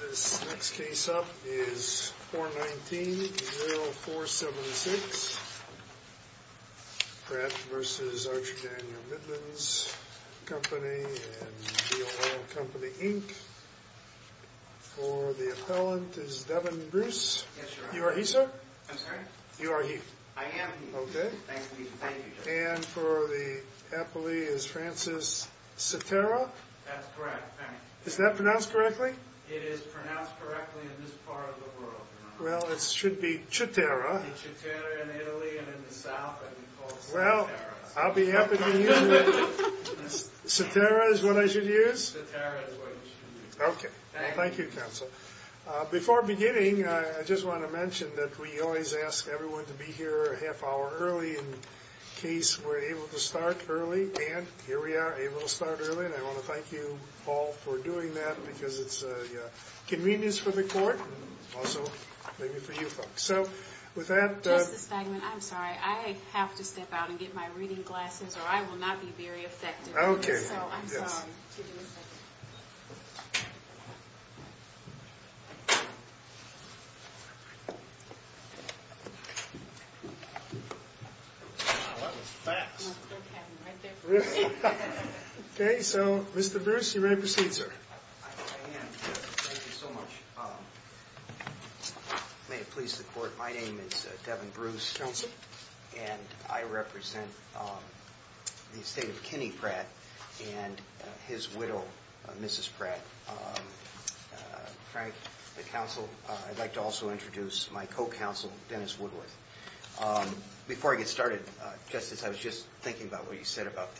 This next case up is 419-0476, Pratt v. Arch Daniel Midlands Company and The O'Hare Company, Inc. For the appellant is Devin Bruce. I'm sorry? You are he. I am he. Okay. Thank you. And for the appellee is Francis Cetera. That's correct. Thank you. Is that pronounced correctly? It is pronounced correctly in this part of the world. Well, it should be Cetera. It should be Cetera in Italy and in the South, and we call it Cetera. Well, I'll be happy to use it. Cetera is what I should use? Cetera is what you should use. Okay. Thank you, counsel. Before beginning, I just want to mention that we always ask everyone to be here a half hour early in case we're able to start early. And here we are, able to start early. And I want to thank you all for doing that because it's a convenience for the court and also maybe for you folks. So with that – Justice Feigman, I'm sorry. I have to step out and get my reading glasses or I will not be very effective. Okay. So I'm sorry to do that. Thank you. Wow, that was fast. Right there for me. Okay. So, Mr. Bruce, you're ready to proceed, sir. I am. Thank you so much. May it please the court, my name is Devin Bruce. Yes, sir. And I represent the estate of Kenny Pratt and his widow, Mrs. Pratt. Frank, the counsel, I'd like to also introduce my co-counsel, Dennis Woodworth. Before I get started, Justice, I was just thinking about what you said about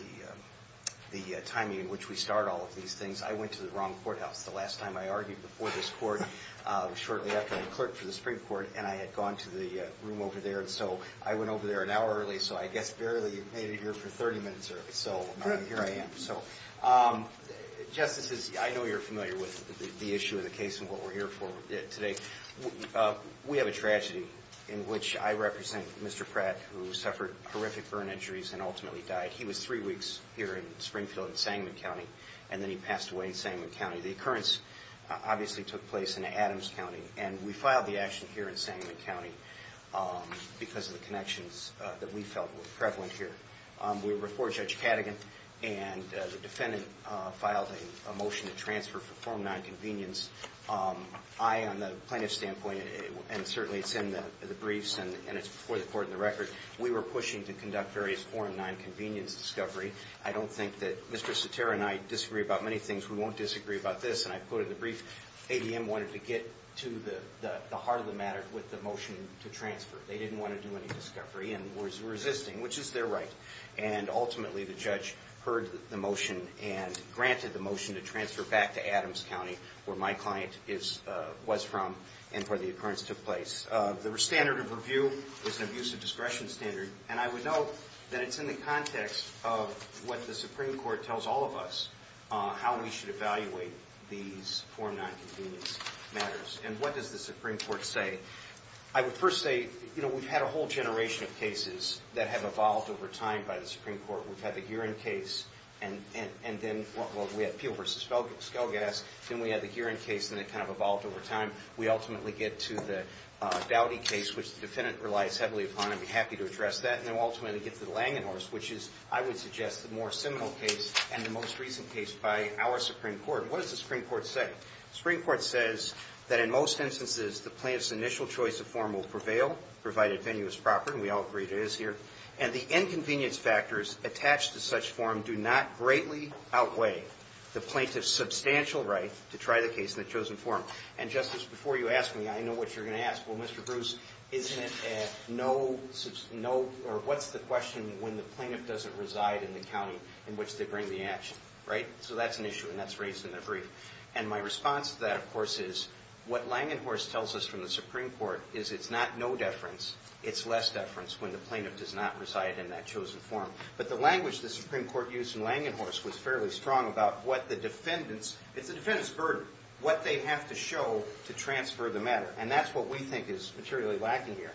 the timing in which we start all of these things. I went to the wrong courthouse the last time I argued before this court. It was shortly after I clerked for the Supreme Court and I had gone to the room over there. And so I went over there an hour early, so I guess barely made it here for 30 minutes early. So here I am. So, Justice, I know you're familiar with the issue of the case and what we're here for today. We have a tragedy in which I represent Mr. Pratt, who suffered horrific burn injuries and ultimately died. He was three weeks here in Springfield in Sangamon County, and then he passed away in Sangamon County. The occurrence obviously took place in Adams County, and we filed the action here in Sangamon County. Because of the connections that we felt were prevalent here. We were before Judge Cadogan, and the defendant filed a motion to transfer for form 9 convenience. I, on the plaintiff's standpoint, and certainly it's in the briefs and it's before the court in the record, we were pushing to conduct various form 9 convenience discovery. I don't think that Mr. Sotera and I disagree about many things. We won't disagree about this. And I put in the brief, ADM wanted to get to the heart of the matter with the motion to transfer. They didn't want to do any discovery and was resisting, which is their right. And ultimately the judge heard the motion and granted the motion to transfer back to Adams County, where my client was from and where the occurrence took place. The standard of review is an abuse of discretion standard. And I would note that it's in the context of what the Supreme Court tells all of us, how we should evaluate these form 9 convenience matters. And what does the Supreme Court say? I would first say, you know, we've had a whole generation of cases that have evolved over time by the Supreme Court. We've had the Gearing case, and then we had Peel v. Skelgas. Then we had the Gearing case, and it kind of evolved over time. We ultimately get to the Dowdy case, which the defendant relies heavily upon. I'd be happy to address that. And then we ultimately get to the Langenhorst, which is, I would suggest, the more seminal case and the most recent case by our Supreme Court. What does the Supreme Court say? The Supreme Court says that in most instances the plaintiff's initial choice of form will prevail, provided venue is proper. And we all agree it is here. And the inconvenience factors attached to such form do not greatly outweigh the plaintiff's substantial right to try the case in the chosen form. And, Justice, before you ask me, I know what you're going to ask. Well, Mr. Bruce, isn't it a no or what's the question when the plaintiff doesn't reside in the county in which they bring the action, right? So that's an issue, and that's raised in the brief. And my response to that, of course, is what Langenhorst tells us from the Supreme Court is it's not no deference. It's less deference when the plaintiff does not reside in that chosen form. But the language the Supreme Court used in Langenhorst was fairly strong about what the defendants – it's the defendants' burden, what they have to show to transfer the matter. And that's what we think is materially lacking here.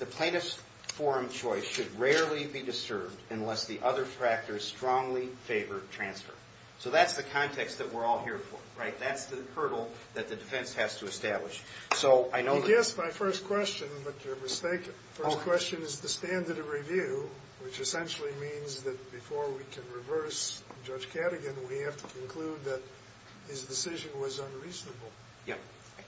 The plaintiff's form choice should rarely be disturbed unless the other factors strongly favor transfer. So that's the context that we're all here for, right? That's the hurdle that the defense has to establish. So I know that – You guessed my first question, but you're mistaken. My first question is the standard of review, which essentially means that before we can reverse Judge Cadogan, we have to conclude that his decision was unreasonable.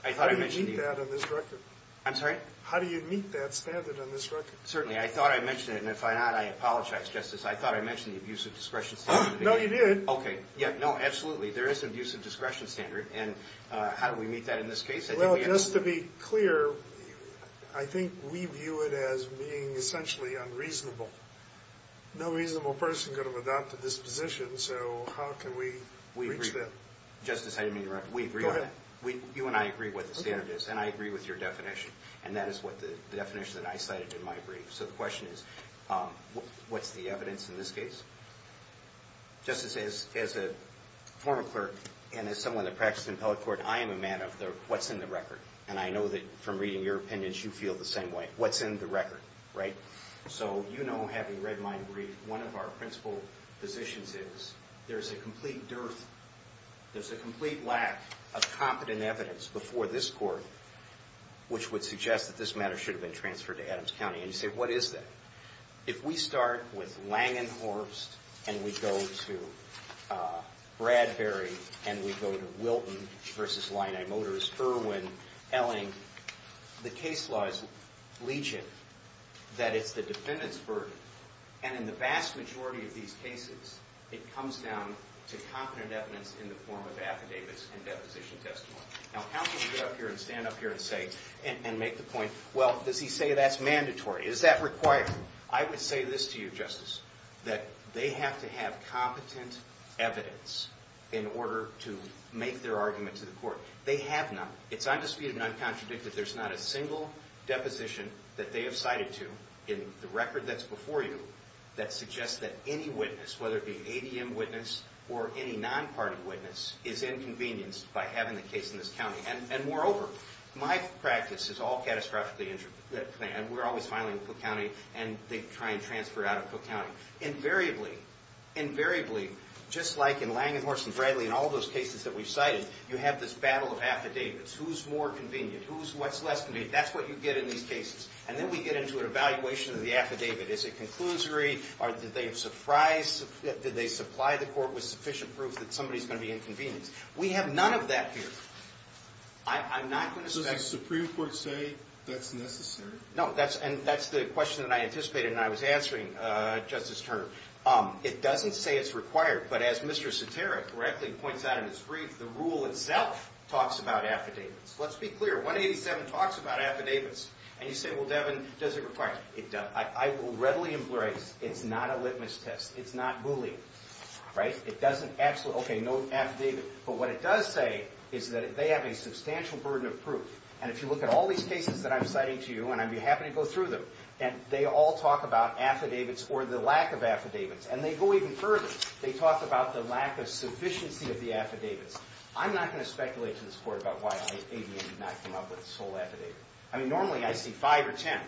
How do you meet that on this record? I'm sorry? How do you meet that standard on this record? Certainly. I thought I mentioned it, and if I not, I apologize, Justice. I thought I mentioned the abuse of discretion standard. No, you did. Okay. No, absolutely. There is an abuse of discretion standard, and how do we meet that in this case? Well, just to be clear, I think we view it as being essentially unreasonable. No reasonable person could have adopted this position, so how can we reach that? Justice, I didn't mean to interrupt. Go ahead. You and I agree what the standard is, and I agree with your definition. And that is the definition that I cited in my brief. So the question is, what's the evidence in this case? Justice, as a former clerk and as someone that practiced in appellate court, I am a man of what's in the record. And I know that from reading your opinions, you feel the same way. What's in the record, right? So you know, having read my brief, one of our principal positions is there's a complete dearth, there's a complete lack of competent evidence before this court which would suggest that this matter should have been transferred to Adams County. And you say, what is that? If we start with Langenhorst and we go to Bradbury and we go to Wilton v. Linai Motors, Irwin, Elling, the case law is alleging that it's the defendant's burden. And in the vast majority of these cases, it comes down to competent evidence in the form of affidavits and deposition testimony. Now, how can you get up here and stand up here and say, and make the point, well, does he say that's mandatory? Is that required? I would say this to you, Justice, that they have to have competent evidence in order to make their argument to the court. They have none. It's undisputed and uncontradicted. There's not a single deposition that they have cited to in the record that's before you that suggests that any witness, whether it be an ADM witness or any non-party witness, is inconvenienced by having the case in this county. And moreover, my practice is all catastrophically injured. And we're always filing in Cook County, and they try and transfer out of Cook County. Invariably, invariably, just like in Lange, Morse, and Bradley and all those cases that we've cited, you have this battle of affidavits. Who's more convenient? Who's what's less convenient? That's what you get in these cases. And then we get into an evaluation of the affidavit. Is it conclusory? Did they supply the court with sufficient proof that somebody's going to be inconvenienced? We have none of that here. Does the Supreme Court say that's necessary? No, and that's the question that I anticipated when I was answering Justice Turner. It doesn't say it's required, but as Mr. Cetera correctly points out in his brief, the rule itself talks about affidavits. Let's be clear. 187 talks about affidavits. And you say, well, Devin, does it require it? It does. I will readily emphasize, it's not a litmus test. It's not bullying. It doesn't actually, okay, no affidavit. But what it does say is that they have a substantial burden of proof. And if you look at all these cases that I'm citing to you, and I'd be happy to go through them, and they all talk about affidavits or the lack of affidavits. And they go even further. They talk about the lack of sufficiency of the affidavits. I'm not going to speculate to this court about why ADM did not come up with this whole affidavit. I mean, normally I see five or ten.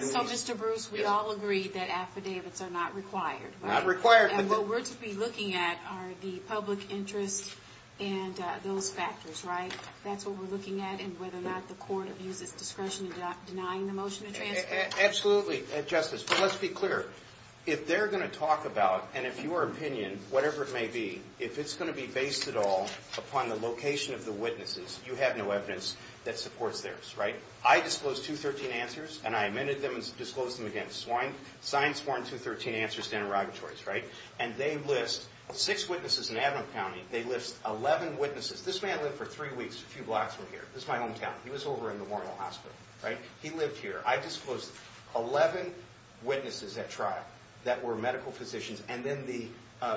So, Mr. Bruce, we all agree that affidavits are not required. Not required. And what we're to be looking at are the public interest and those factors, right? That's what we're looking at, and whether or not the court abuses discretion in denying the motion to transfer. Absolutely, Justice. But let's be clear. If they're going to talk about, and if your opinion, whatever it may be, if it's going to be based at all upon the location of the witnesses, you have no evidence that supports theirs, right? I disclosed 213 answers, and I amended them and disclosed them again. Signed, sworn, 213 answers to interrogatories, right? And they list six witnesses in Avon County. They list 11 witnesses. This man lived for three weeks, a few blocks from here. This is my hometown. He was over in the Warnell Hospital, right? He lived here. I disclosed 11 witnesses at trial that were medical physicians, and then the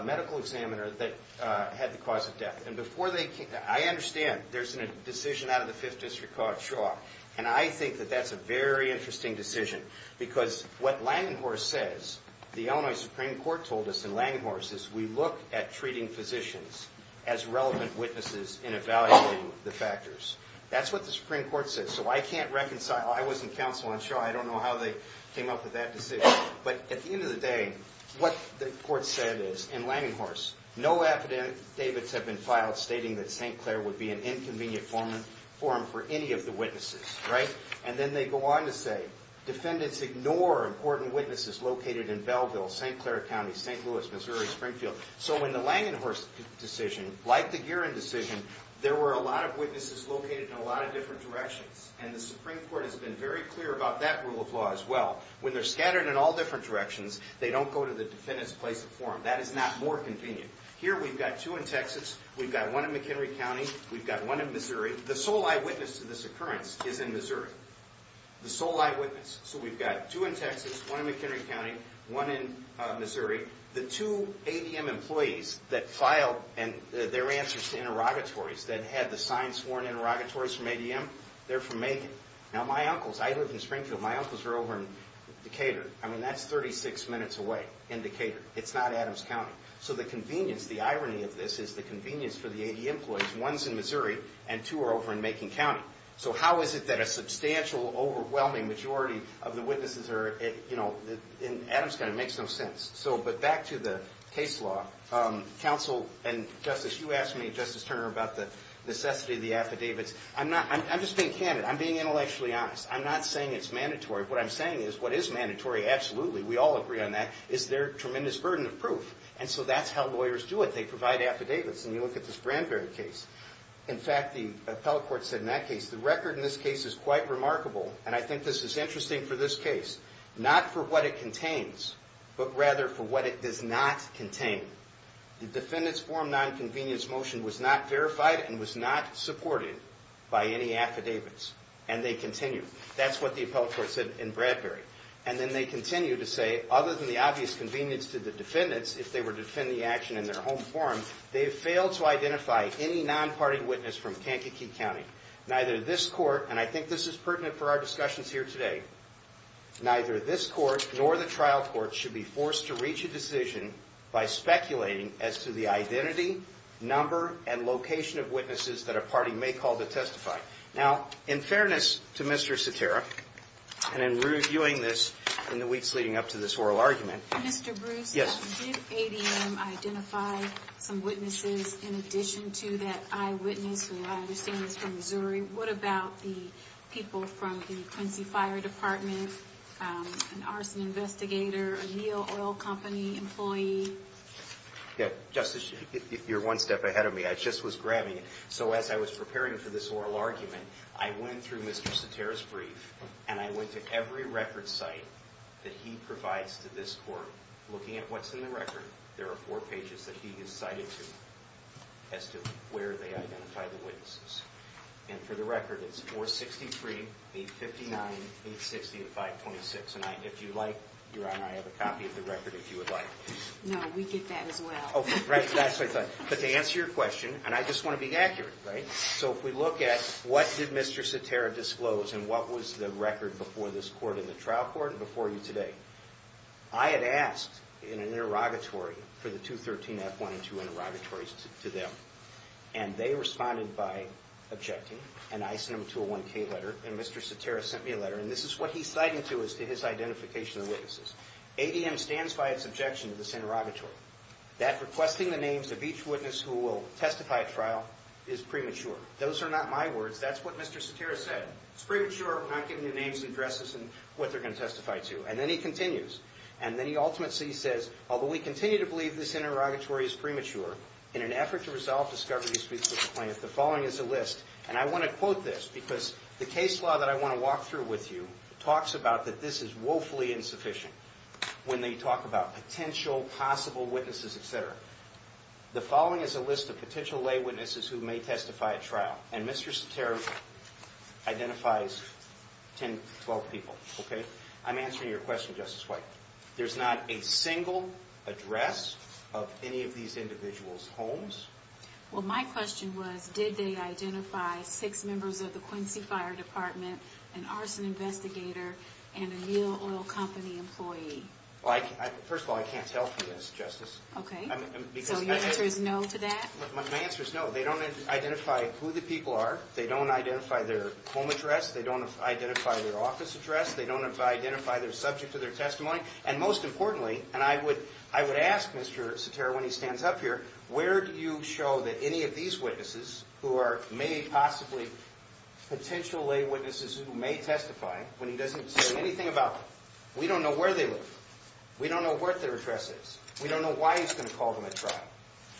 medical examiner that had the cause of death. And before they came, I understand there's a decision out of the Fifth District Court, Shaw, and I think that that's a very interesting decision, because what Langenhorst says, the Illinois Supreme Court told us in Langenhorst, is we look at treating physicians as relevant witnesses in evaluating the factors. That's what the Supreme Court said. So I can't reconcile. I was in counsel on Shaw. I don't know how they came up with that decision. But at the end of the day, what the court said is, in Langenhorst, no affidavits have been filed stating that St. Clair would be an inconvenient forum for any of the witnesses, right? And then they go on to say, defendants ignore important witnesses located in Belleville, St. Clair County, St. Louis, Missouri, Springfield. So in the Langenhorst decision, like the Guerin decision, there were a lot of witnesses located in a lot of different directions, and the Supreme Court has been very clear about that rule of law as well. When they're scattered in all different directions, they don't go to the defendant's place of forum. That is not more convenient. Here we've got two in Texas. We've got one in McHenry County. We've got one in Missouri. The sole eyewitness to this occurrence is in Missouri. The sole eyewitness. So we've got two in Texas, one in McHenry County, one in Missouri. The two ADM employees that filed their answers to interrogatories that had the signs sworn interrogatories from ADM, they're from Macon. Now my uncles, I live in Springfield. My uncles are over in Decatur. I mean, that's 36 minutes away in Decatur. It's not Adams County. So the convenience, the irony of this, is the convenience for the ADM employees, one's in Missouri and two are over in Macon County. So how is it that a substantial, overwhelming majority of the witnesses are, you know, in Adams County, it makes no sense. But back to the case law. Counsel and Justice, you asked me, Justice Turner, about the necessity of the affidavits. I'm just being candid. I'm being intellectually honest. I'm not saying it's mandatory. What I'm saying is what is mandatory, absolutely, we all agree on that, is their tremendous burden of proof. And so that's how lawyers do it. They provide affidavits. And you look at this Bradbury case. In fact, the appellate court said in that case, the record in this case is quite remarkable, and I think this is interesting for this case. Not for what it contains, but rather for what it does not contain. The defendant's form 9 convenience motion was not verified and was not supported by any affidavits. And they continue. That's what the appellate court said in Bradbury. And then they continue to say, other than the obvious convenience to the defendants, if they were to defend the action in their home forum, they have failed to identify any non-party witness from Kankakee County. Neither this court, and I think this is pertinent for our discussions here today, neither this court nor the trial court should be forced to reach a decision by speculating as to the identity, number, and location of witnesses that a party may call to testify. Now, in fairness to Mr. Cetera, and in reviewing this in the weeks leading up to this oral argument, Mr. Bruce, did ADM identify some witnesses in addition to that eyewitness who I understand is from Missouri? What about the people from the Quincy Fire Department, an arson investigator, a Neal Oil Company employee? Justice, you're one step ahead of me. I just was grabbing it. So as I was preparing for this oral argument, I went through Mr. Cetera's brief, and I went to every record site that he provides to this court. Looking at what's in the record, there are four pages that he has cited as to where they identified the witnesses. And for the record, it's 463, 859, 860, and 526. And if you'd like, Your Honor, I have a copy of the record if you would like. No, we get that as well. Right, that's what I thought. But to answer your question, and I just want to be accurate, right? So if we look at what did Mr. Cetera disclose and what was the record before this court in the trial court and before you today, I had asked in an interrogatory for the 213F1 and 2 interrogatories to them, and they responded by objecting, and I sent them to a 1K letter, and Mr. Cetera sent me a letter, and this is what he's citing to as to his identification of witnesses. ADM stands by its objection to this interrogatory, that requesting the names of each witness who will testify at trial is premature. Those are not my words. That's what Mr. Cetera said. It's premature not giving you names and addresses and what they're going to testify to. And then he continues, and then he ultimately says, although we continue to believe this interrogatory is premature, in an effort to resolve discovery disputes with the plaintiff, the following is a list, and I want to quote this because the case law that I want to walk through with you talks about that this is woefully insufficient when they talk about potential possible witnesses, et cetera. The following is a list of potential lay witnesses who may testify at trial, and Mr. Cetera identifies 10 to 12 people, okay? I'm answering your question, Justice White. There's not a single address of any of these individuals' homes. Well, my question was, did they identify six members of the Quincy Fire Department, an arson investigator, and a Neal Oil Company employee? First of all, I can't tell for this, Justice. Okay. So your answer is no to that? My answer is no. They don't identify who the people are. They don't identify their home address. They don't identify their office address. They don't identify their subject of their testimony. And most importantly, and I would ask Mr. Cetera when he stands up here, where do you show that any of these witnesses who are may possibly potential lay witnesses who may testify when he doesn't say anything about them? We don't know where they live. We don't know what their address is. We don't know why he's going to call them at trial.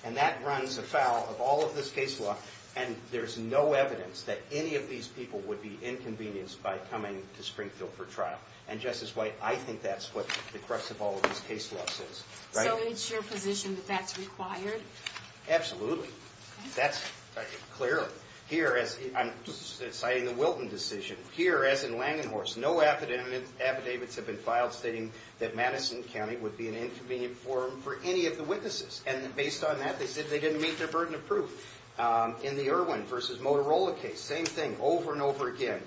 And that runs afoul of all of this case law, and there's no evidence that any of these people would be inconvenienced by coming to Springfield for trial. And, Justice White, I think that's what the crux of all of this case law says. So it's your position that that's required? Absolutely. That's clear. Here, as I'm citing the Wilton decision, here, as in Langenhorst, no affidavits have been filed stating that Madison County would be an inconvenient forum for any of the witnesses. And based on that, they said they didn't meet their burden of proof. In the Irwin v. Motorola case, same thing over and over again.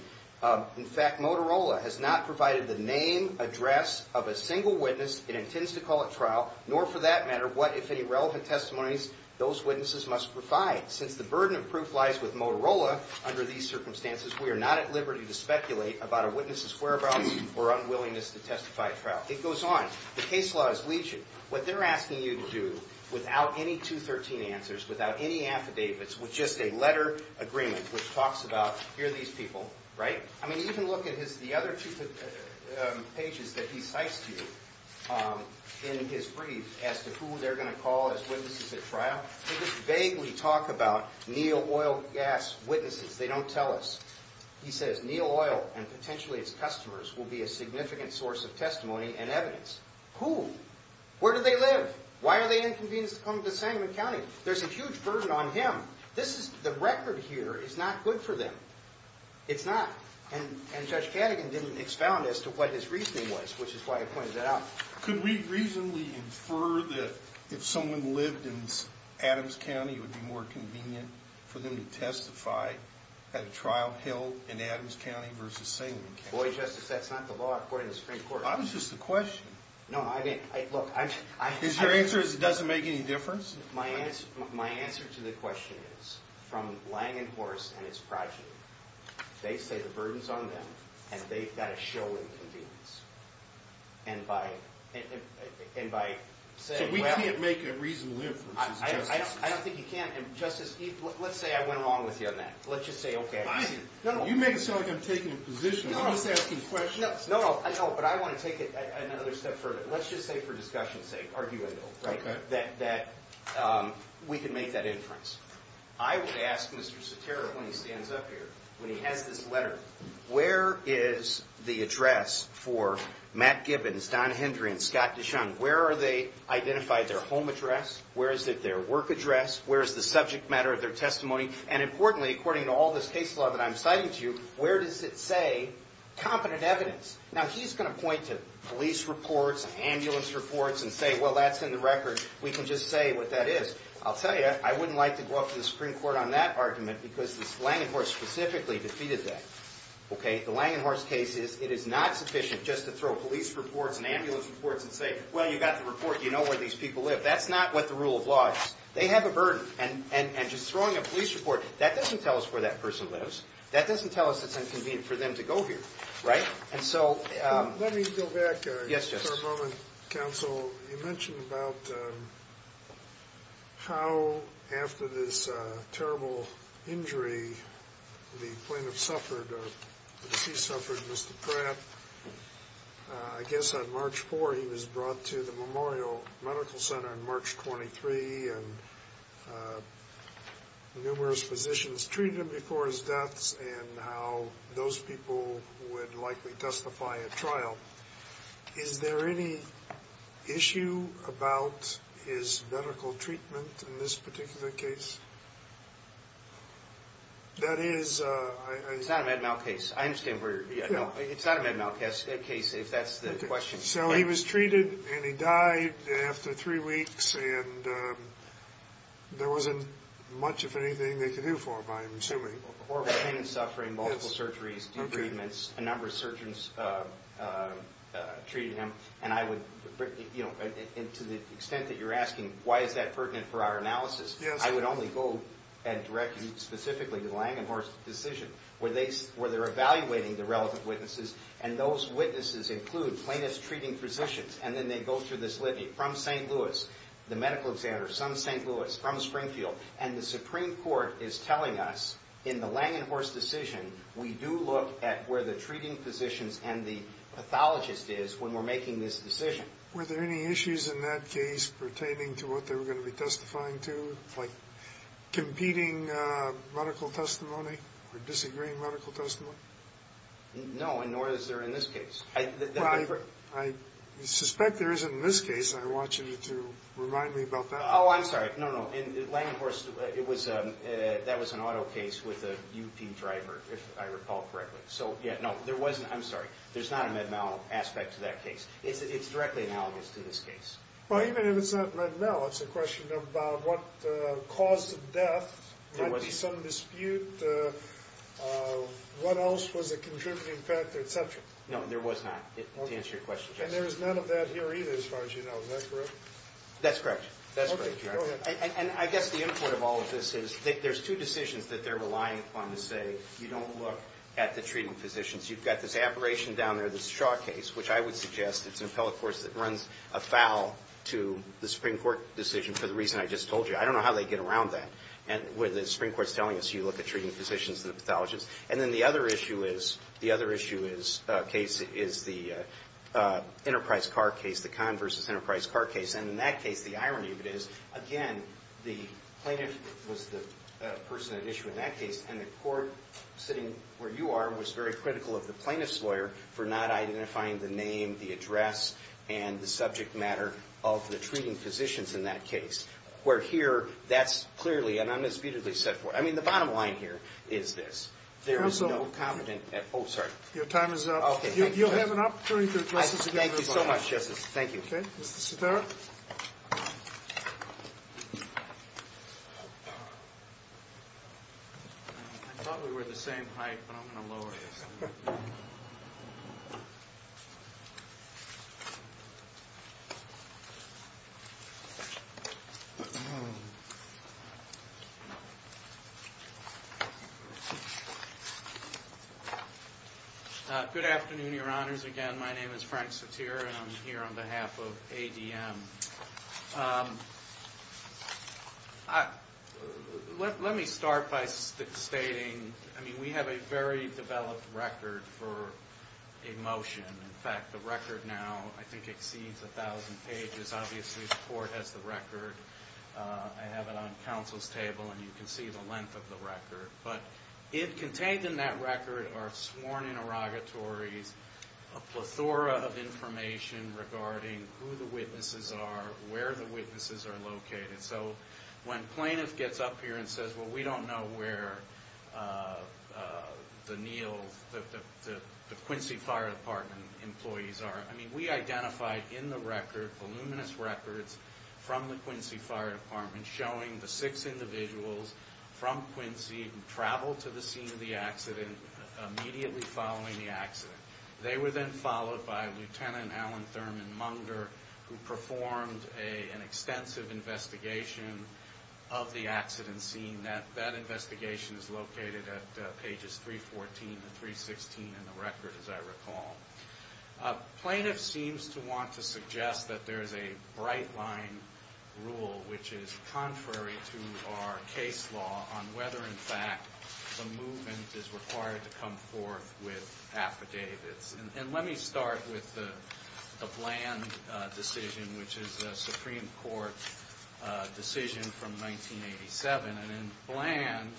In fact, Motorola has not provided the name, address of a single witness. It intends to call at trial, nor for that matter what, if any, relevant testimonies those witnesses must provide. Since the burden of proof lies with Motorola under these circumstances, we are not at liberty to speculate about a witness's whereabouts or unwillingness to testify at trial. It goes on. The case law is legion. What they're asking you to do without any 213 answers, without any affidavits, with just a letter agreement which talks about here are these people, right? I mean, even look at the other two pages that he cites to you in his brief as to who they're going to call as witnesses at trial. They just vaguely talk about Neal Oil Gas witnesses. They don't tell us. He says, Neal Oil and potentially its customers will be a significant source of testimony and evidence. Who? Where do they live? Why are they inconvenienced to come to Sangamon County? There's a huge burden on him. The record here is not good for them. It's not. And Judge Cadogan didn't expound as to what his reasoning was, which is why I pointed that out. Could we reasonably infer that if someone lived in Adams County, it would be more convenient for them to testify at a trial held in Adams County versus Sangamon County? Justice, that's not the law according to the Supreme Court. I was just a question. No, I mean, look, I'm just... Is your answer is it doesn't make any difference? My answer to the question is, from lang and horse and its progeny, they say the burden's on them, and they've got to show inconvenience. And by saying, well... So we can't make a reasonable inference as justices. I don't think you can. Justice, let's say I went along with you on that. Let's just say, okay... Fine. You make it sound like I'm taking a position. I'm just asking questions. No, but I want to take it another step further. Let's just say for discussion's sake, arguable, that we can make that inference. I would ask Mr. Sotero, when he stands up here, when he has this letter, where is the address for Matt Gibbons, Don Hendry, and Scott Dishon? Where are they identified their home address? Where is it their work address? Where is the subject matter of their testimony? And importantly, according to all this case law that I'm citing to you, where does it say competent evidence? Now, he's going to point to police reports and ambulance reports and say, well, that's in the record. We can just say what that is. I'll tell you, I wouldn't like to go up to the Supreme Court on that argument because this Langenhorst specifically defeated that. The Langenhorst case, it is not sufficient just to throw police reports and ambulance reports and say, well, you got the report. You know where these people live. That's not what the rule of law is. They have a burden, and just throwing a police report, that doesn't tell us where that person lives. That doesn't tell us it's inconvenient for them to go here. Let me go back for a moment, counsel. You mentioned about how, after this terrible injury, the plaintiff suffered, or the deceased suffered, Mr. Pratt. I guess on March 4th, he was brought to the Memorial Medical Center on March 23, and numerous physicians treated him before his death, and how those people would likely justify a trial. Is there any issue about his medical treatment in this particular case? That is— It's not a med mal case. I understand where you're— Yeah. No, it's not a med mal case, if that's the question. So he was treated, and he died after three weeks, and there wasn't much, if anything, they could do for him, I'm assuming. Horrible pain and suffering, multiple surgeries, debridements, a number of surgeons treated him. And I would—to the extent that you're asking, why is that pertinent for our analysis? I would only go and direct you specifically to the Langenhorst decision, where they're evaluating the relative witnesses, and those witnesses include plaintiff's treating physicians, and then they go through this litany from St. Louis, the medical examiner, some St. Louis, from Springfield, and the Supreme Court is telling us, in the Langenhorst decision, we do look at where the treating physicians and the pathologist is when we're making this decision. Were there any issues in that case pertaining to what they were going to be testifying to, like competing medical testimony or disagreeing medical testimony? No, and nor is there in this case. Well, I suspect there isn't in this case, and I want you to remind me about that. Oh, I'm sorry. No, no. In Langenhorst, it was—that was an auto case with a UP driver, if I recall correctly. So, yeah, no, there wasn't—I'm sorry. There's not a med-mal aspect to that case. It's directly analogous to this case. Well, even if it's not med-mal, it's a question about what caused the death, might be some dispute, what else was a contributing factor, et cetera. No, there was not, to answer your question. And there was none of that here either, as far as you know. Is that correct? That's correct. That's correct, Your Honor. Okay. Go ahead. And I guess the input of all of this is that there's two decisions that they're relying upon to say you don't look at the treating physicians. You've got this aberration down there, this Shaw case, which I would suggest it's an appellate court that runs afoul to the Supreme Court decision for the reason I just told you. I don't know how they get around that, where the Supreme Court's telling us you look at treating physicians and the pathologists. And then the other issue is—the other issue is—case is the Enterprise car case, the Conn v. Enterprise car case. And in that case, the irony of it is, again, the plaintiff was the person at issue in that case, and the court sitting where you are was very critical of the plaintiff's lawyer for not identifying the name, the address, and the subject matter of the treating physicians in that case. Where here, that's clearly and unambitiously set forth. I mean, the bottom line here is this. There is no competent—oh, sorry. Your time is up. Okay. Thank you, Justice. You'll have an opportunity to address this again. Thank you so much, Justice. Thank you. Okay. Mr. Sitara? I thought we were the same height, but I'm going to lower you. Good afternoon, Your Honors. Again, my name is Frank Sitara, and I'm here on behalf of ADM. Let me start by stating, I mean, we have a very developed record for a motion. In fact, the record now, I think, exceeds 1,000 pages. Obviously, the court has the record. I have it on counsel's table, and you can see the length of the record. But contained in that record are sworn interrogatories, a plethora of information regarding who the witnesses are, where the witnesses are located. So when plaintiff gets up here and says, well, we don't know where the Neal—the Quincy Fire Department employees are, I mean, we identified in the record voluminous records from the Quincy Fire Department showing the six individuals from Quincy who traveled to the scene of the accident immediately following the accident. They were then followed by Lieutenant Alan Thurman Munger, who performed an extensive investigation of the accident scene. That investigation is located at pages 314 and 316 in the record, as I recall. Plaintiff seems to want to suggest that there is a bright line rule, which is contrary to our case law on whether, in fact, the movement is required to come forth with affidavits. And let me start with the Bland decision, which is a Supreme Court decision from 1987. And in Bland,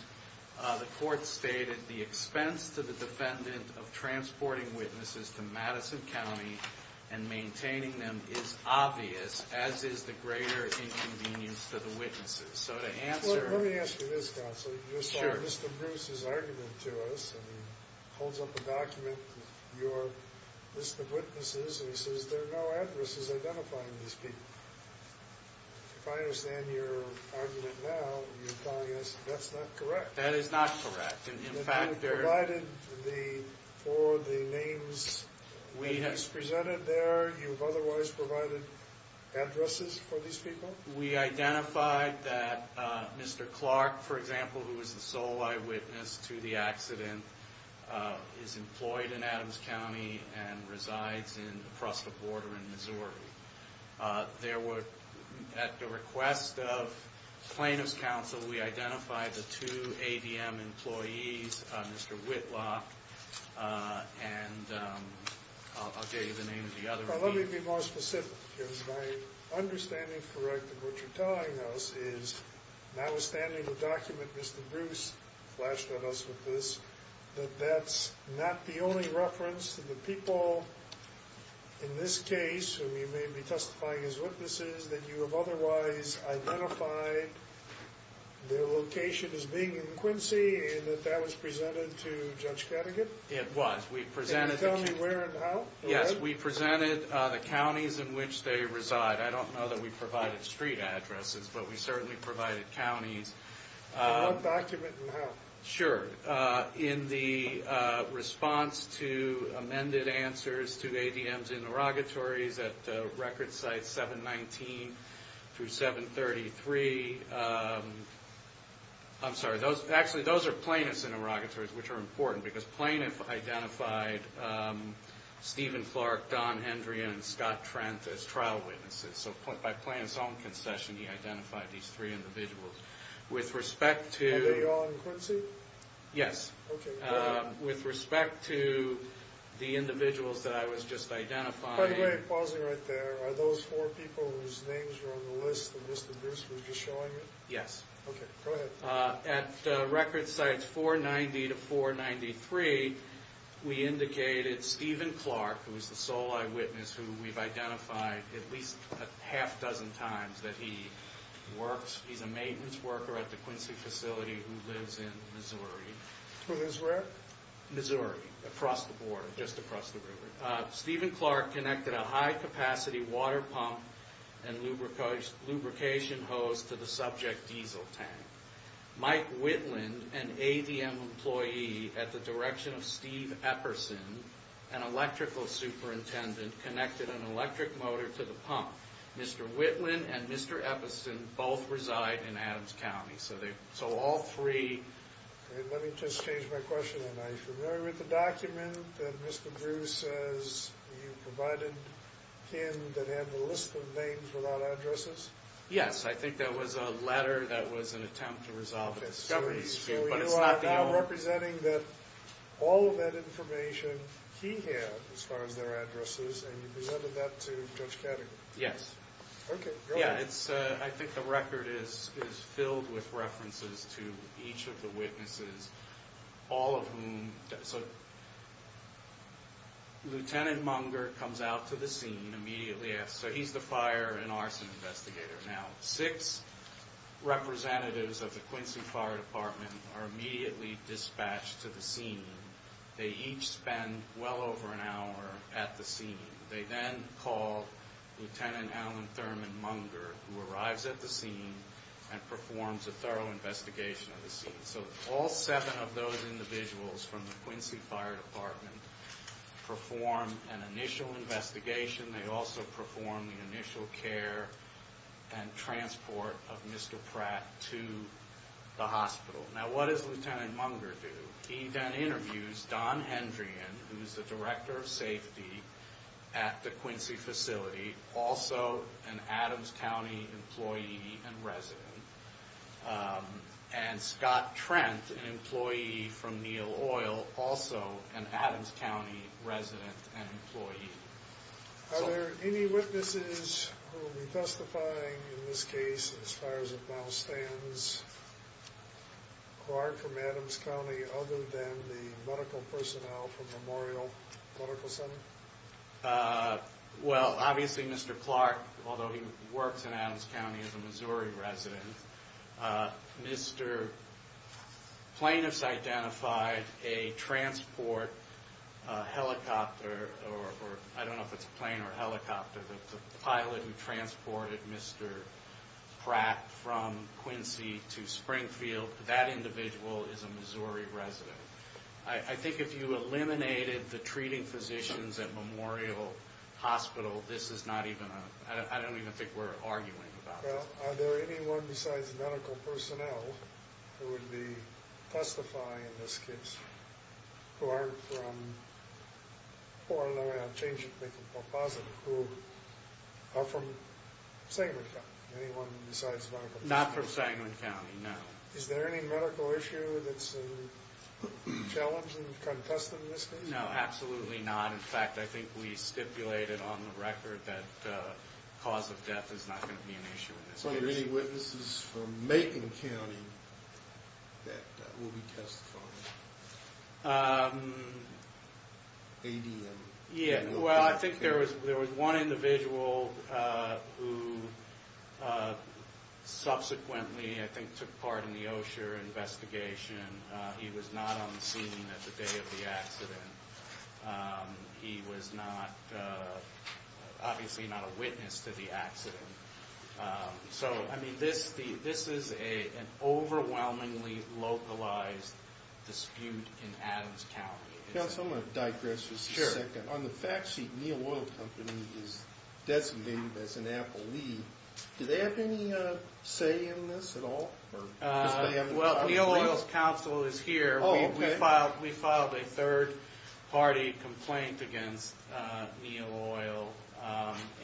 the court stated, the expense to the defendant of transporting witnesses to Madison County and maintaining them is obvious, as is the greater inconvenience to the witnesses. So to answer— Well, let me ask you this, Counsel. Sure. You saw Mr. Bruce's argument to us, and he holds up a document with your list of witnesses, and he says there are no addresses identifying these people. If I understand your argument now, you're telling us that's not correct. That is not correct. In fact, there are— You provided for the names that he's presented there. You've otherwise provided addresses for these people? We identified that Mr. Clark, for example, who was the sole eyewitness to the accident, is employed in Adams County and resides across the border in Missouri. There were, at the request of plaintiff's counsel, we identified the two ADM employees, Mr. Whitlock, and I'll give you the name of the other— Well, let me be more specific, because my understanding correct of what you're telling us is, notwithstanding the document Mr. Bruce flashed at us with this, that that's not the only reference to the people in this case, who you may be testifying as witnesses, that you have otherwise identified their location as being in Quincy, and that that was presented to Judge Kattegat? It was. We presented— Can you tell me where and how? Yes, we presented the counties in which they reside. I don't know that we provided street addresses, but we certainly provided counties. In what document and how? Sure. In the response to amended answers to ADM's interrogatories at record sites 719 through 733. I'm sorry. Actually, those are plaintiff's interrogatories, which are important, because plaintiff identified Stephen Clark, Don Hendry, and Scott Trent as trial witnesses. So by plaintiff's own concession, he identified these three individuals. With respect to— Yes. Okay. Go ahead. With respect to the individuals that I was just identifying— By the way, pausing right there, are those four people whose names are on the list that Mr. Bruce was just showing you? Yes. Okay. Go ahead. At record sites 490 to 493, we indicated Stephen Clark, who is the sole eyewitness, who we've identified at least a half dozen times that he works. He's a maintenance worker at the Quincy facility who lives in Missouri. Where is where? Missouri, across the border, just across the river. Stephen Clark connected a high-capacity water pump and lubrication hose to the subject diesel tank. Mike Whitland, an ADM employee at the direction of Steve Epperson, an electrical superintendent, connected an electric motor to the pump. Mr. Whitland and Mr. Epperson both reside in Adams County. So all three— Let me just change my question then. Are you familiar with the document that Mr. Bruce says you provided him that had the list of names without addresses? Yes. I think that was a letter that was an attempt to resolve a discovery dispute. But it's not the only— So you are now representing that all of that information he had, as far as their addresses, and you presented that to Judge Categor? Yes. Okay. Go ahead. I think the record is filled with references to each of the witnesses, all of whom— So, Lieutenant Munger comes out to the scene immediately after. So he's the fire and arson investigator. Now, six representatives of the Quincy Fire Department are immediately dispatched to the scene. They each spend well over an hour at the scene. They then call Lieutenant Alan Thurman Munger, who arrives at the scene and performs a thorough investigation of the scene. So all seven of those individuals from the Quincy Fire Department perform an initial investigation. They also perform the initial care and transport of Mr. Pratt to the hospital. Now, what does Lieutenant Munger do? He then interviews Don Hendrian, who's the director of safety at the Quincy facility, also an Adams County employee and resident, and Scott Trent, an employee from Neil Oil, also an Adams County resident and employee. Are there any witnesses who will be testifying in this case, as far as it now stands, who are from Adams County other than the medical personnel from Memorial Medical Center? Well, obviously Mr. Clark, although he works in Adams County as a Missouri resident, Mr. Plaintiffs identified a transport helicopter, or I don't know if it's a plane or a helicopter, the pilot who transported Mr. Pratt from Quincy to Springfield. That individual is a Missouri resident. I think if you eliminated the treating physicians at Memorial Hospital, this is not even a—I don't even think we're arguing about this. Well, are there anyone besides medical personnel who would be testifying in this case who aren't from—I'll change it, make it more positive—who are from Segment County? Anyone besides medical personnel? Not from Segment County, no. Is there any medical issue that's challenging, contesting this case? No, absolutely not. In fact, I think we stipulated on the record that cause of death is not going to be an issue in this case. So are there any witnesses from Macon County that will be testifying? ADM? Yeah, well, I think there was one individual who subsequently, I think, took part in the Osher investigation. He was not on the scene at the day of the accident. He was not—obviously not a witness to the accident. So, I mean, this is an overwhelmingly localized dispute in Adams County. Counsel, I'm going to digress just a second. On the fact sheet, Neal Oil Company is designated as an Apple lead. Do they have any say in this at all? Well, Neal Oil's counsel is here. We filed a third-party complaint against Neal Oil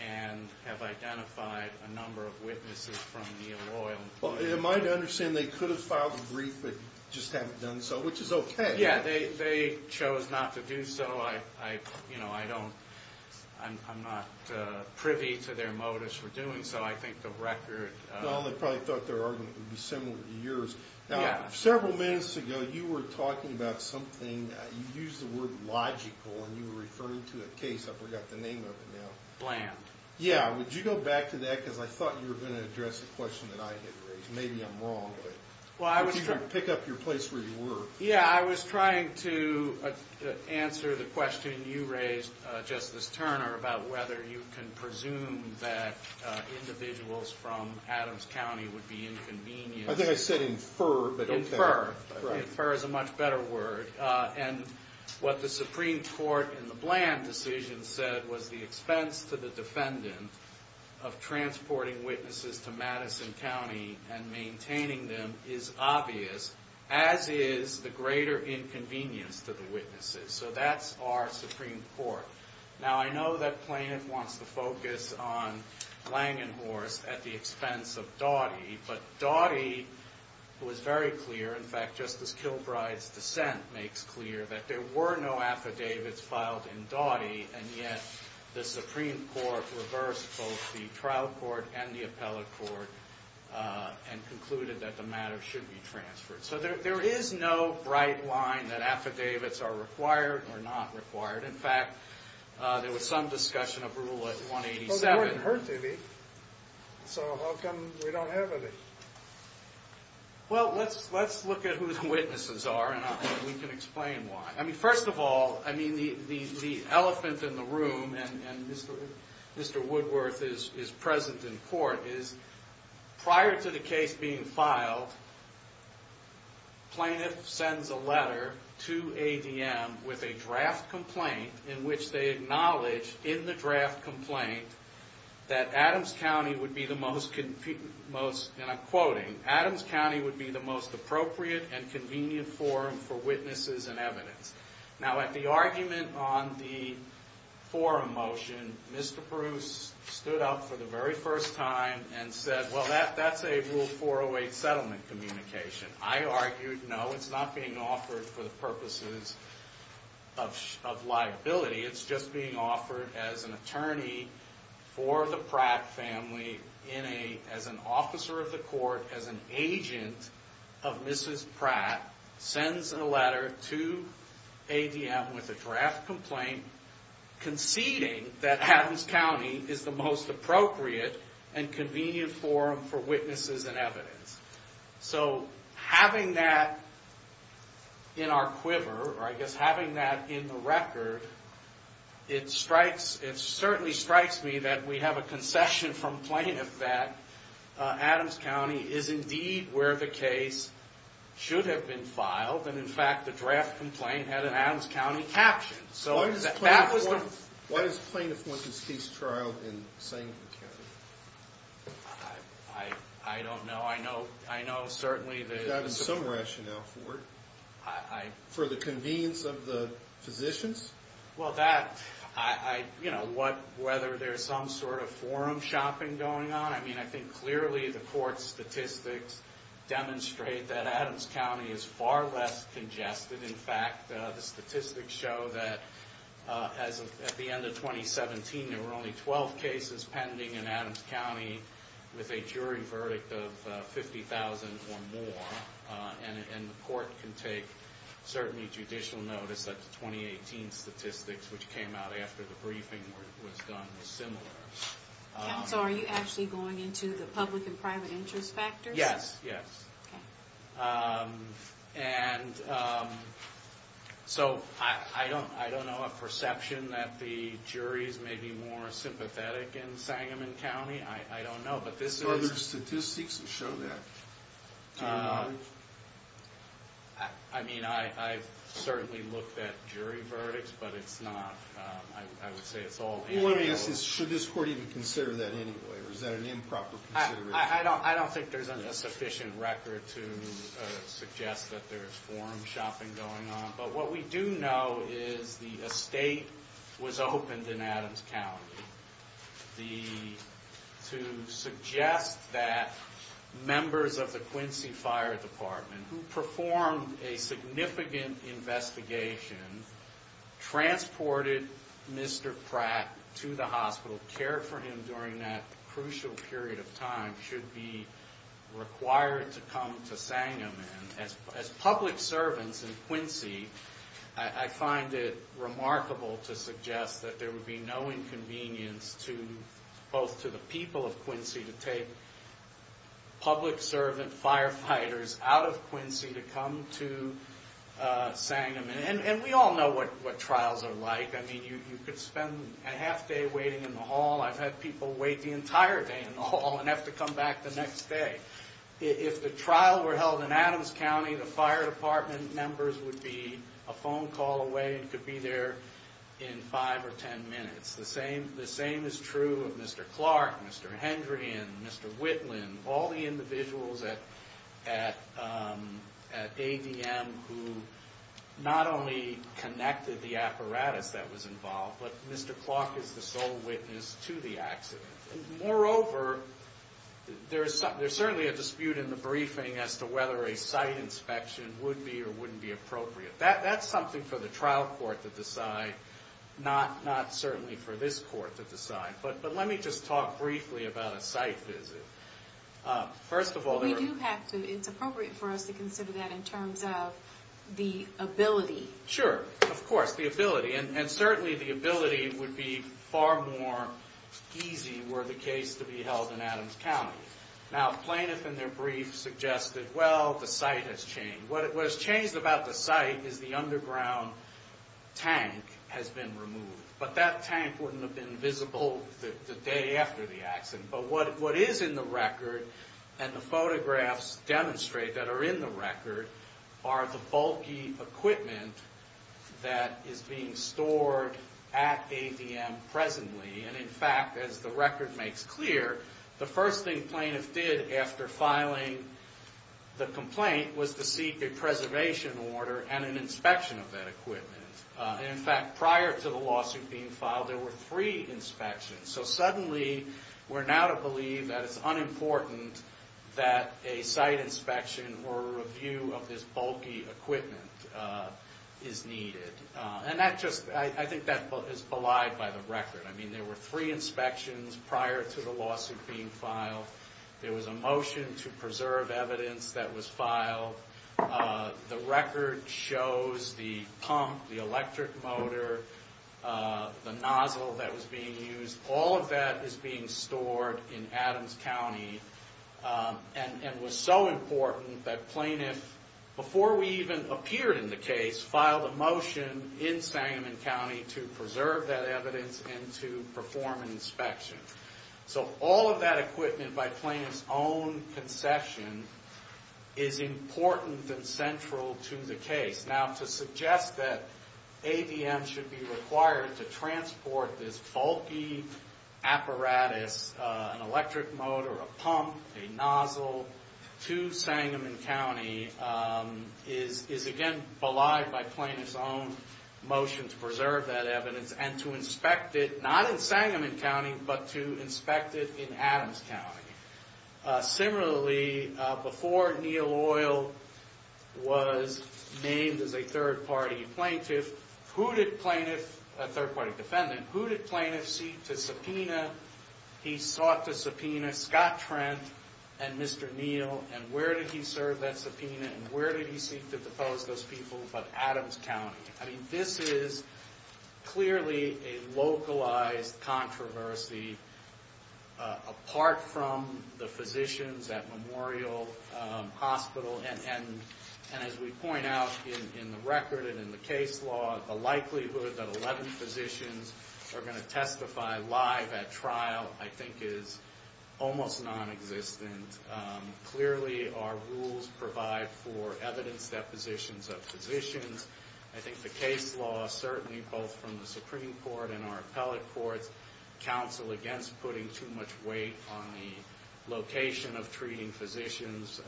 and have identified a number of witnesses from Neal Oil. Am I to understand they could have filed a brief but just haven't done so, which is okay? Yeah, they chose not to do so. I'm not privy to their motives for doing so. I think the record— Now, several minutes ago, you were talking about something. You used the word logical, and you were referring to a case. I forgot the name of it now. Bland. Yeah. Would you go back to that because I thought you were going to address a question that I had raised. Maybe I'm wrong, but would you pick up your place where you were? Yeah, I was trying to answer the question you raised, Justice Turner, about whether you can presume that individuals from Adams County would be inconvenienced. I think I said infer, but okay. Infer. Infer is a much better word. And what the Supreme Court in the Bland decision said was the expense to the defendant of transporting witnesses to Madison County and maintaining them is obvious, as is the greater inconvenience to the witnesses. So that's our Supreme Court. Now, I know that plaintiff wants to focus on Langenhorst at the expense of Doughty, but Doughty was very clear—in fact, Justice Kilbride's dissent makes clear that there were no affidavits filed in Doughty, and yet the Supreme Court reversed both the trial court and the appellate court and concluded that the matter should be transferred. So there is no bright line that affidavits are required or not required. In fact, there was some discussion of Rule 187. Well, they weren't heard to be, so how come we don't have any? Well, let's look at who the witnesses are, and we can explain why. I mean, first of all, I mean, the elephant in the room, and Mr. Woodworth is present in court, is prior to the case being filed, plaintiff sends a letter to ADM with a draft complaint in which they acknowledge in the draft complaint that Adams County would be the most—and I'm quoting— Adams County would be the most appropriate and convenient forum for witnesses and evidence. Now, at the argument on the forum motion, Mr. Bruce stood up for the very first time and said, well, that's a Rule 408 settlement communication. I argued, no, it's not being offered for the purposes of liability. It's just being offered as an attorney for the Pratt family as an officer of the court, as an agent of Mrs. Pratt, sends a letter to ADM with a draft complaint conceding that Adams County is the most appropriate and convenient forum for witnesses and evidence. So having that in our quiver, or I guess having that in the record, it certainly strikes me that we have a concession from plaintiff that Adams County is indeed where the case should have been filed, and in fact, the draft complaint had an Adams County caption. So that was the— Why does plaintiff want this case trialed in Sanford County? I don't know. I know certainly that— You've got some rationale for it. I— For the convenience of the physicians? Well, that—you know, whether there's some sort of forum shopping going on. I mean, I think clearly the court statistics demonstrate that Adams County is far less congested. In fact, the statistics show that at the end of 2017, there were only 12 cases pending in Adams County with a jury verdict of 50,000 or more. And the court can take certainly judicial notice that the 2018 statistics, which came out after the briefing, was done was similar. So are you actually going into the public and private interest factors? Yes, yes. Okay. And so I don't know a perception that the juries may be more sympathetic in Sangamon County. I don't know, but this is— Are there statistics that show that? Do you know any? I mean, I've certainly looked at jury verdicts, but it's not—I would say it's all anecdotal. Let me ask this. Should this court even consider that anyway, or is that an improper consideration? I don't think there's a sufficient record to suggest that there's forum shopping going on. But what we do know is the estate was opened in Adams County to suggest that members of the Quincy Fire Department, who performed a significant investigation, transported Mr. Pratt to the hospital, cared for him during that crucial period of time, should be required to come to Sangamon. As public servants in Quincy, I find it remarkable to suggest that there would be no inconvenience, both to the people of Quincy, to take public servant firefighters out of Quincy to come to Sangamon. And we all know what trials are like. I mean, you could spend a half day waiting in the hall. I've had people wait the entire day in the hall and have to come back the next day. If the trial were held in Adams County, the fire department members would be a phone call away and could be there in five or ten minutes. The same is true of Mr. Clark, Mr. Hendrian, Mr. Whitlin, all the individuals at ADM who not only connected the apparatus that was involved, but Mr. Clark is the sole witness to the accident. Moreover, there's certainly a dispute in the briefing as to whether a site inspection would be or wouldn't be appropriate. That's something for the trial court to decide, not certainly for this court to decide. But let me just talk briefly about a site visit. First of all... We do have to, it's appropriate for us to consider that in terms of the ability. Sure, of course, the ability. And certainly the ability would be far more easy were the case to be held in Adams County. Now, plaintiffs in their briefs suggested, well, the site has changed. What has changed about the site is the underground tank has been removed. But that tank wouldn't have been visible the day after the accident. But what is in the record, and the photographs demonstrate that are in the record, are the bulky equipment that is being stored at ADM presently. And in fact, as the record makes clear, the first thing plaintiffs did after filing the complaint was to seek a preservation order and an inspection of that equipment. And in fact, prior to the lawsuit being filed, there were three inspections. So suddenly, we're now to believe that it's unimportant that a site inspection or a review of this bulky equipment is needed. And I think that is belied by the record. I mean, there were three inspections prior to the lawsuit being filed. There was a motion to preserve evidence that was filed. The record shows the pump, the electric motor, the nozzle that was being used. All of that is being stored in Adams County and was so important that plaintiffs, before we even appeared in the case, filed a motion in Sangamon County to preserve that evidence and to perform an inspection. So all of that equipment by plaintiff's own concession is important and central to the case. Now, to suggest that ADM should be required to transport this bulky apparatus, an electric motor, a pump, a nozzle, to Sangamon County is, again, belied by plaintiff's own motion to preserve that evidence and to inspect it, not in Sangamon County, but to inspect it in Adams County. Similarly, before Neil Oil was named as a third-party plaintiff, who did plaintiff, a third-party defendant, who did plaintiff seek to subpoena? He sought to subpoena Scott Trent and Mr. Neil. And where did he serve that subpoena? And where did he seek to depose those people but Adams County? I mean, this is clearly a localized controversy apart from the physicians at Memorial Hospital. And as we point out in the record and in the case law, the likelihood that 11 physicians are going to testify live at trial, I think, is almost nonexistent. Clearly, our rules provide for evidence depositions of physicians. I think the case law, certainly, both from the Supreme Court and our appellate courts, counsel against putting too much weight on the location of treating physicians,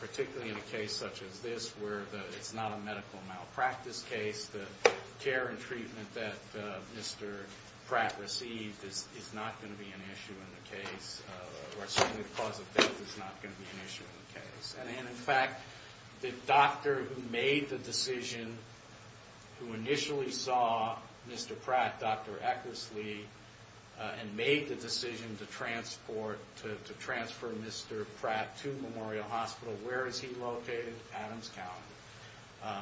particularly in a case such as this where it's not a medical malpractice case. The care and treatment that Mr. Pratt received is not going to be an issue in the case, or certainly the cause of death is not going to be an issue in the case. And, in fact, the doctor who made the decision, who initially saw Mr. Pratt, Dr. Eckersley, and made the decision to transfer Mr. Pratt to Memorial Hospital, where is he located? Adams County.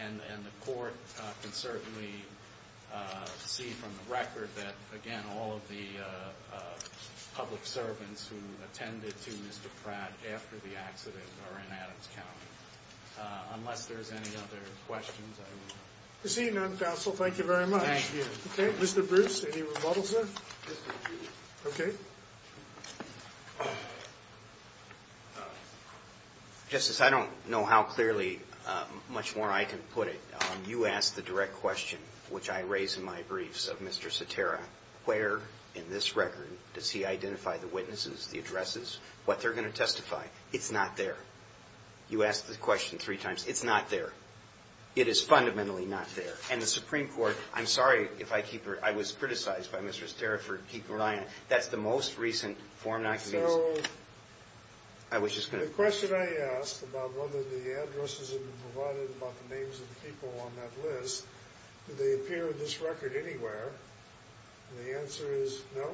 And the court can certainly see from the record that, again, all of the public servants who attended to Mr. Pratt after the accident are in Adams County. Unless there's any other questions, I will not proceed. Thank you very much. Mr. Bruce, any rebuttals there? Okay. Justice, I don't know how clearly, much more I can put it. You asked the direct question, which I raise in my briefs of Mr. Sotera, where in this record does he identify the witnesses, the addresses, what they're going to testify. It's not there. You asked the question three times. It's not there. It is fundamentally not there. And the Supreme Court, I'm sorry if I keep, I was criticized by Mr. Sotera for keeping my eye on it. That's the most recent form not to be used. So the question I asked about whether the addresses have been provided about the names of the people on that list, do they appear in this record anywhere? And the answer is no.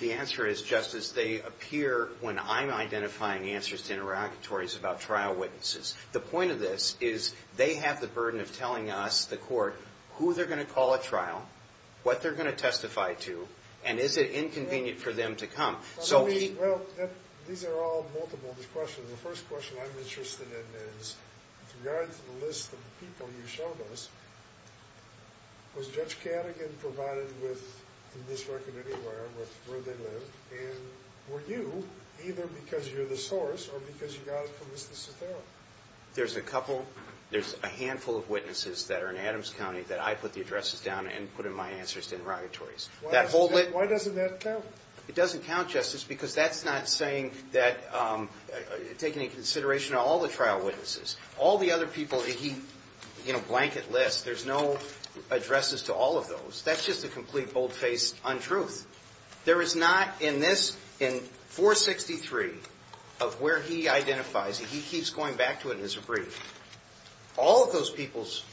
The answer is, Justice, they appear when I'm identifying answers to interrogatories about trial witnesses. The point of this is they have the burden of telling us, the court, who they're going to call at trial, what they're going to testify to, and is it inconvenient for them to come. Well, these are all multiple questions. The first question I'm interested in is, with regard to the list of people you showed us, was Judge Cadogan provided in this record anywhere with where they lived, and were you either because you're the source or because you got it from Mr. Sotera? There's a handful of witnesses that are in Adams County that I put the addresses down and put in my answers to interrogatories. Why doesn't that count? It doesn't count, Justice, because that's not saying that, taking into consideration all the trial witnesses. All the other people that he, you know, blanket lists, there's no addresses to all of those. That's just a complete bold-faced untruth. There is not in this, in 463 of where he identifies, he keeps going back to it as a brief. All of those people's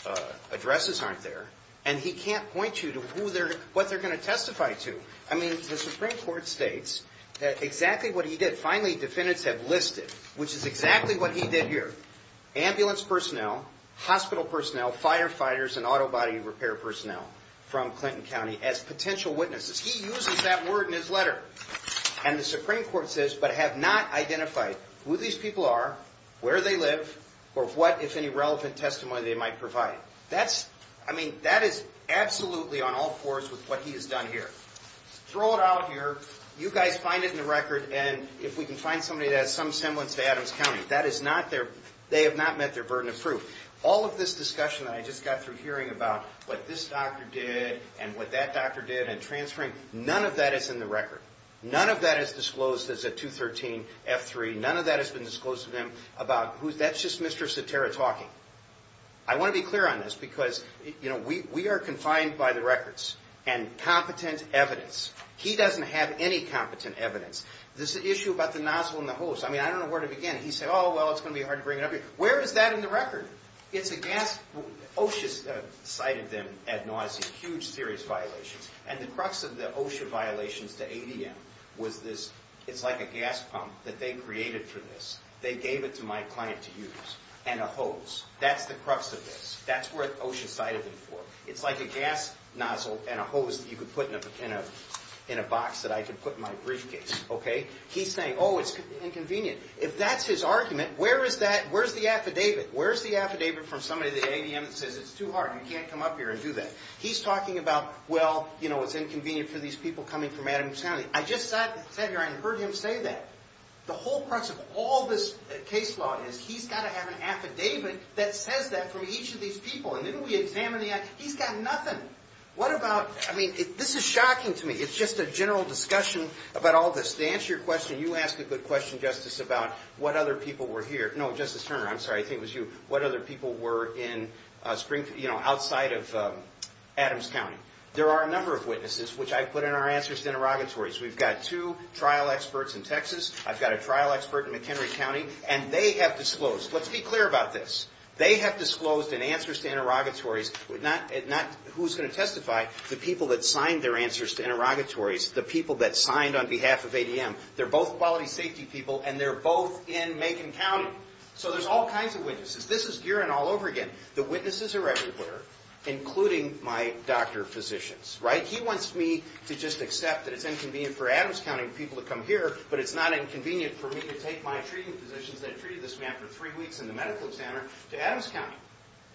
addresses aren't there, and he can't point you to who they're, what they're going to testify to. I mean, the Supreme Court states that exactly what he did, finally defendants have listed, which is exactly what he did here, ambulance personnel, hospital personnel, firefighters, and auto body repair personnel from Clinton County as potential witnesses. He uses that word in his letter, and the Supreme Court says, but have not identified who these people are, where they live, or what, if any, relevant testimony they might provide. That's, I mean, that is absolutely on all fours with what he has done here. Throw it out here, you guys find it in the record, and if we can find somebody that has some semblance to Adams County. That is not their, they have not met their burden of proof. All of this discussion that I just got through hearing about what this doctor did, and what that doctor did, and transferring, none of that is in the record. None of that is disclosed as a 213F3. None of that has been disclosed to them about who, that's just Mr. Saterra talking. I want to be clear on this, because, you know, we are confined by the records, and competent evidence, he doesn't have any competent evidence. This issue about the nozzle and the hose, I mean, I don't know where to begin. He said, oh, well, it's going to be hard to bring it up here. Where is that in the record? It's a gas, OSHA cited them at nausea, huge serious violations, and the crux of the OSHA violations to ADM was this, it's like a gas pump that they created for this. They gave it to my client to use, and a hose. That's the crux of this. That's what OSHA cited them for. It's like a gas nozzle and a hose that you could put in a box that I could put in my briefcase, okay? He's saying, oh, it's inconvenient. If that's his argument, where is that, where's the affidavit? Where's the affidavit from somebody at the ADM that says it's too hard, you can't come up here and do that? He's talking about, well, you know, it's inconvenient for these people coming from Adams County. I just sat here and heard him say that. The whole crux of all this case law is he's got to have an affidavit that says that from each of these people, and then we examine the evidence. He's got nothing. What about, I mean, this is shocking to me. It's just a general discussion about all this. To answer your question, you asked a good question, Justice, about what other people were here. No, Justice Turner, I'm sorry, I think it was you. What other people were in Springfield, you know, outside of Adams County. There are a number of witnesses, which I put in our answers to interrogatories. We've got two trial experts in Texas. I've got a trial expert in McHenry County. And they have disclosed, let's be clear about this, they have disclosed in answers to interrogatories, who's going to testify, the people that signed their answers to interrogatories, the people that signed on behalf of ADM. They're both quality safety people, and they're both in Macon County. So there's all kinds of witnesses. This is Geeran all over again. The witnesses are everywhere, including my doctor physicians, right? He wants me to just accept that it's inconvenient for Adams County people to come here, but it's not inconvenient for me to take my treating physicians that treated this man for three weeks in the medical center to Adams County.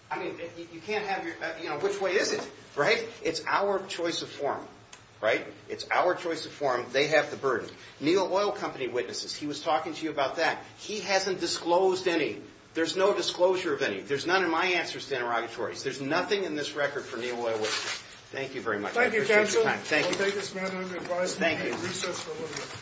I mean, you can't have your, you know, which way is it, right? It's our choice of form, right? It's our choice of form. They have the burden. Neil Oil Company witnesses, he was talking to you about that. He hasn't disclosed any. There's no disclosure of any. There's none in my answers to interrogatories. There's nothing in this record for Neil Oil. Thank you very much. I appreciate your time. Thank you, counsel. I'll take this man under advisement and recess for a little bit.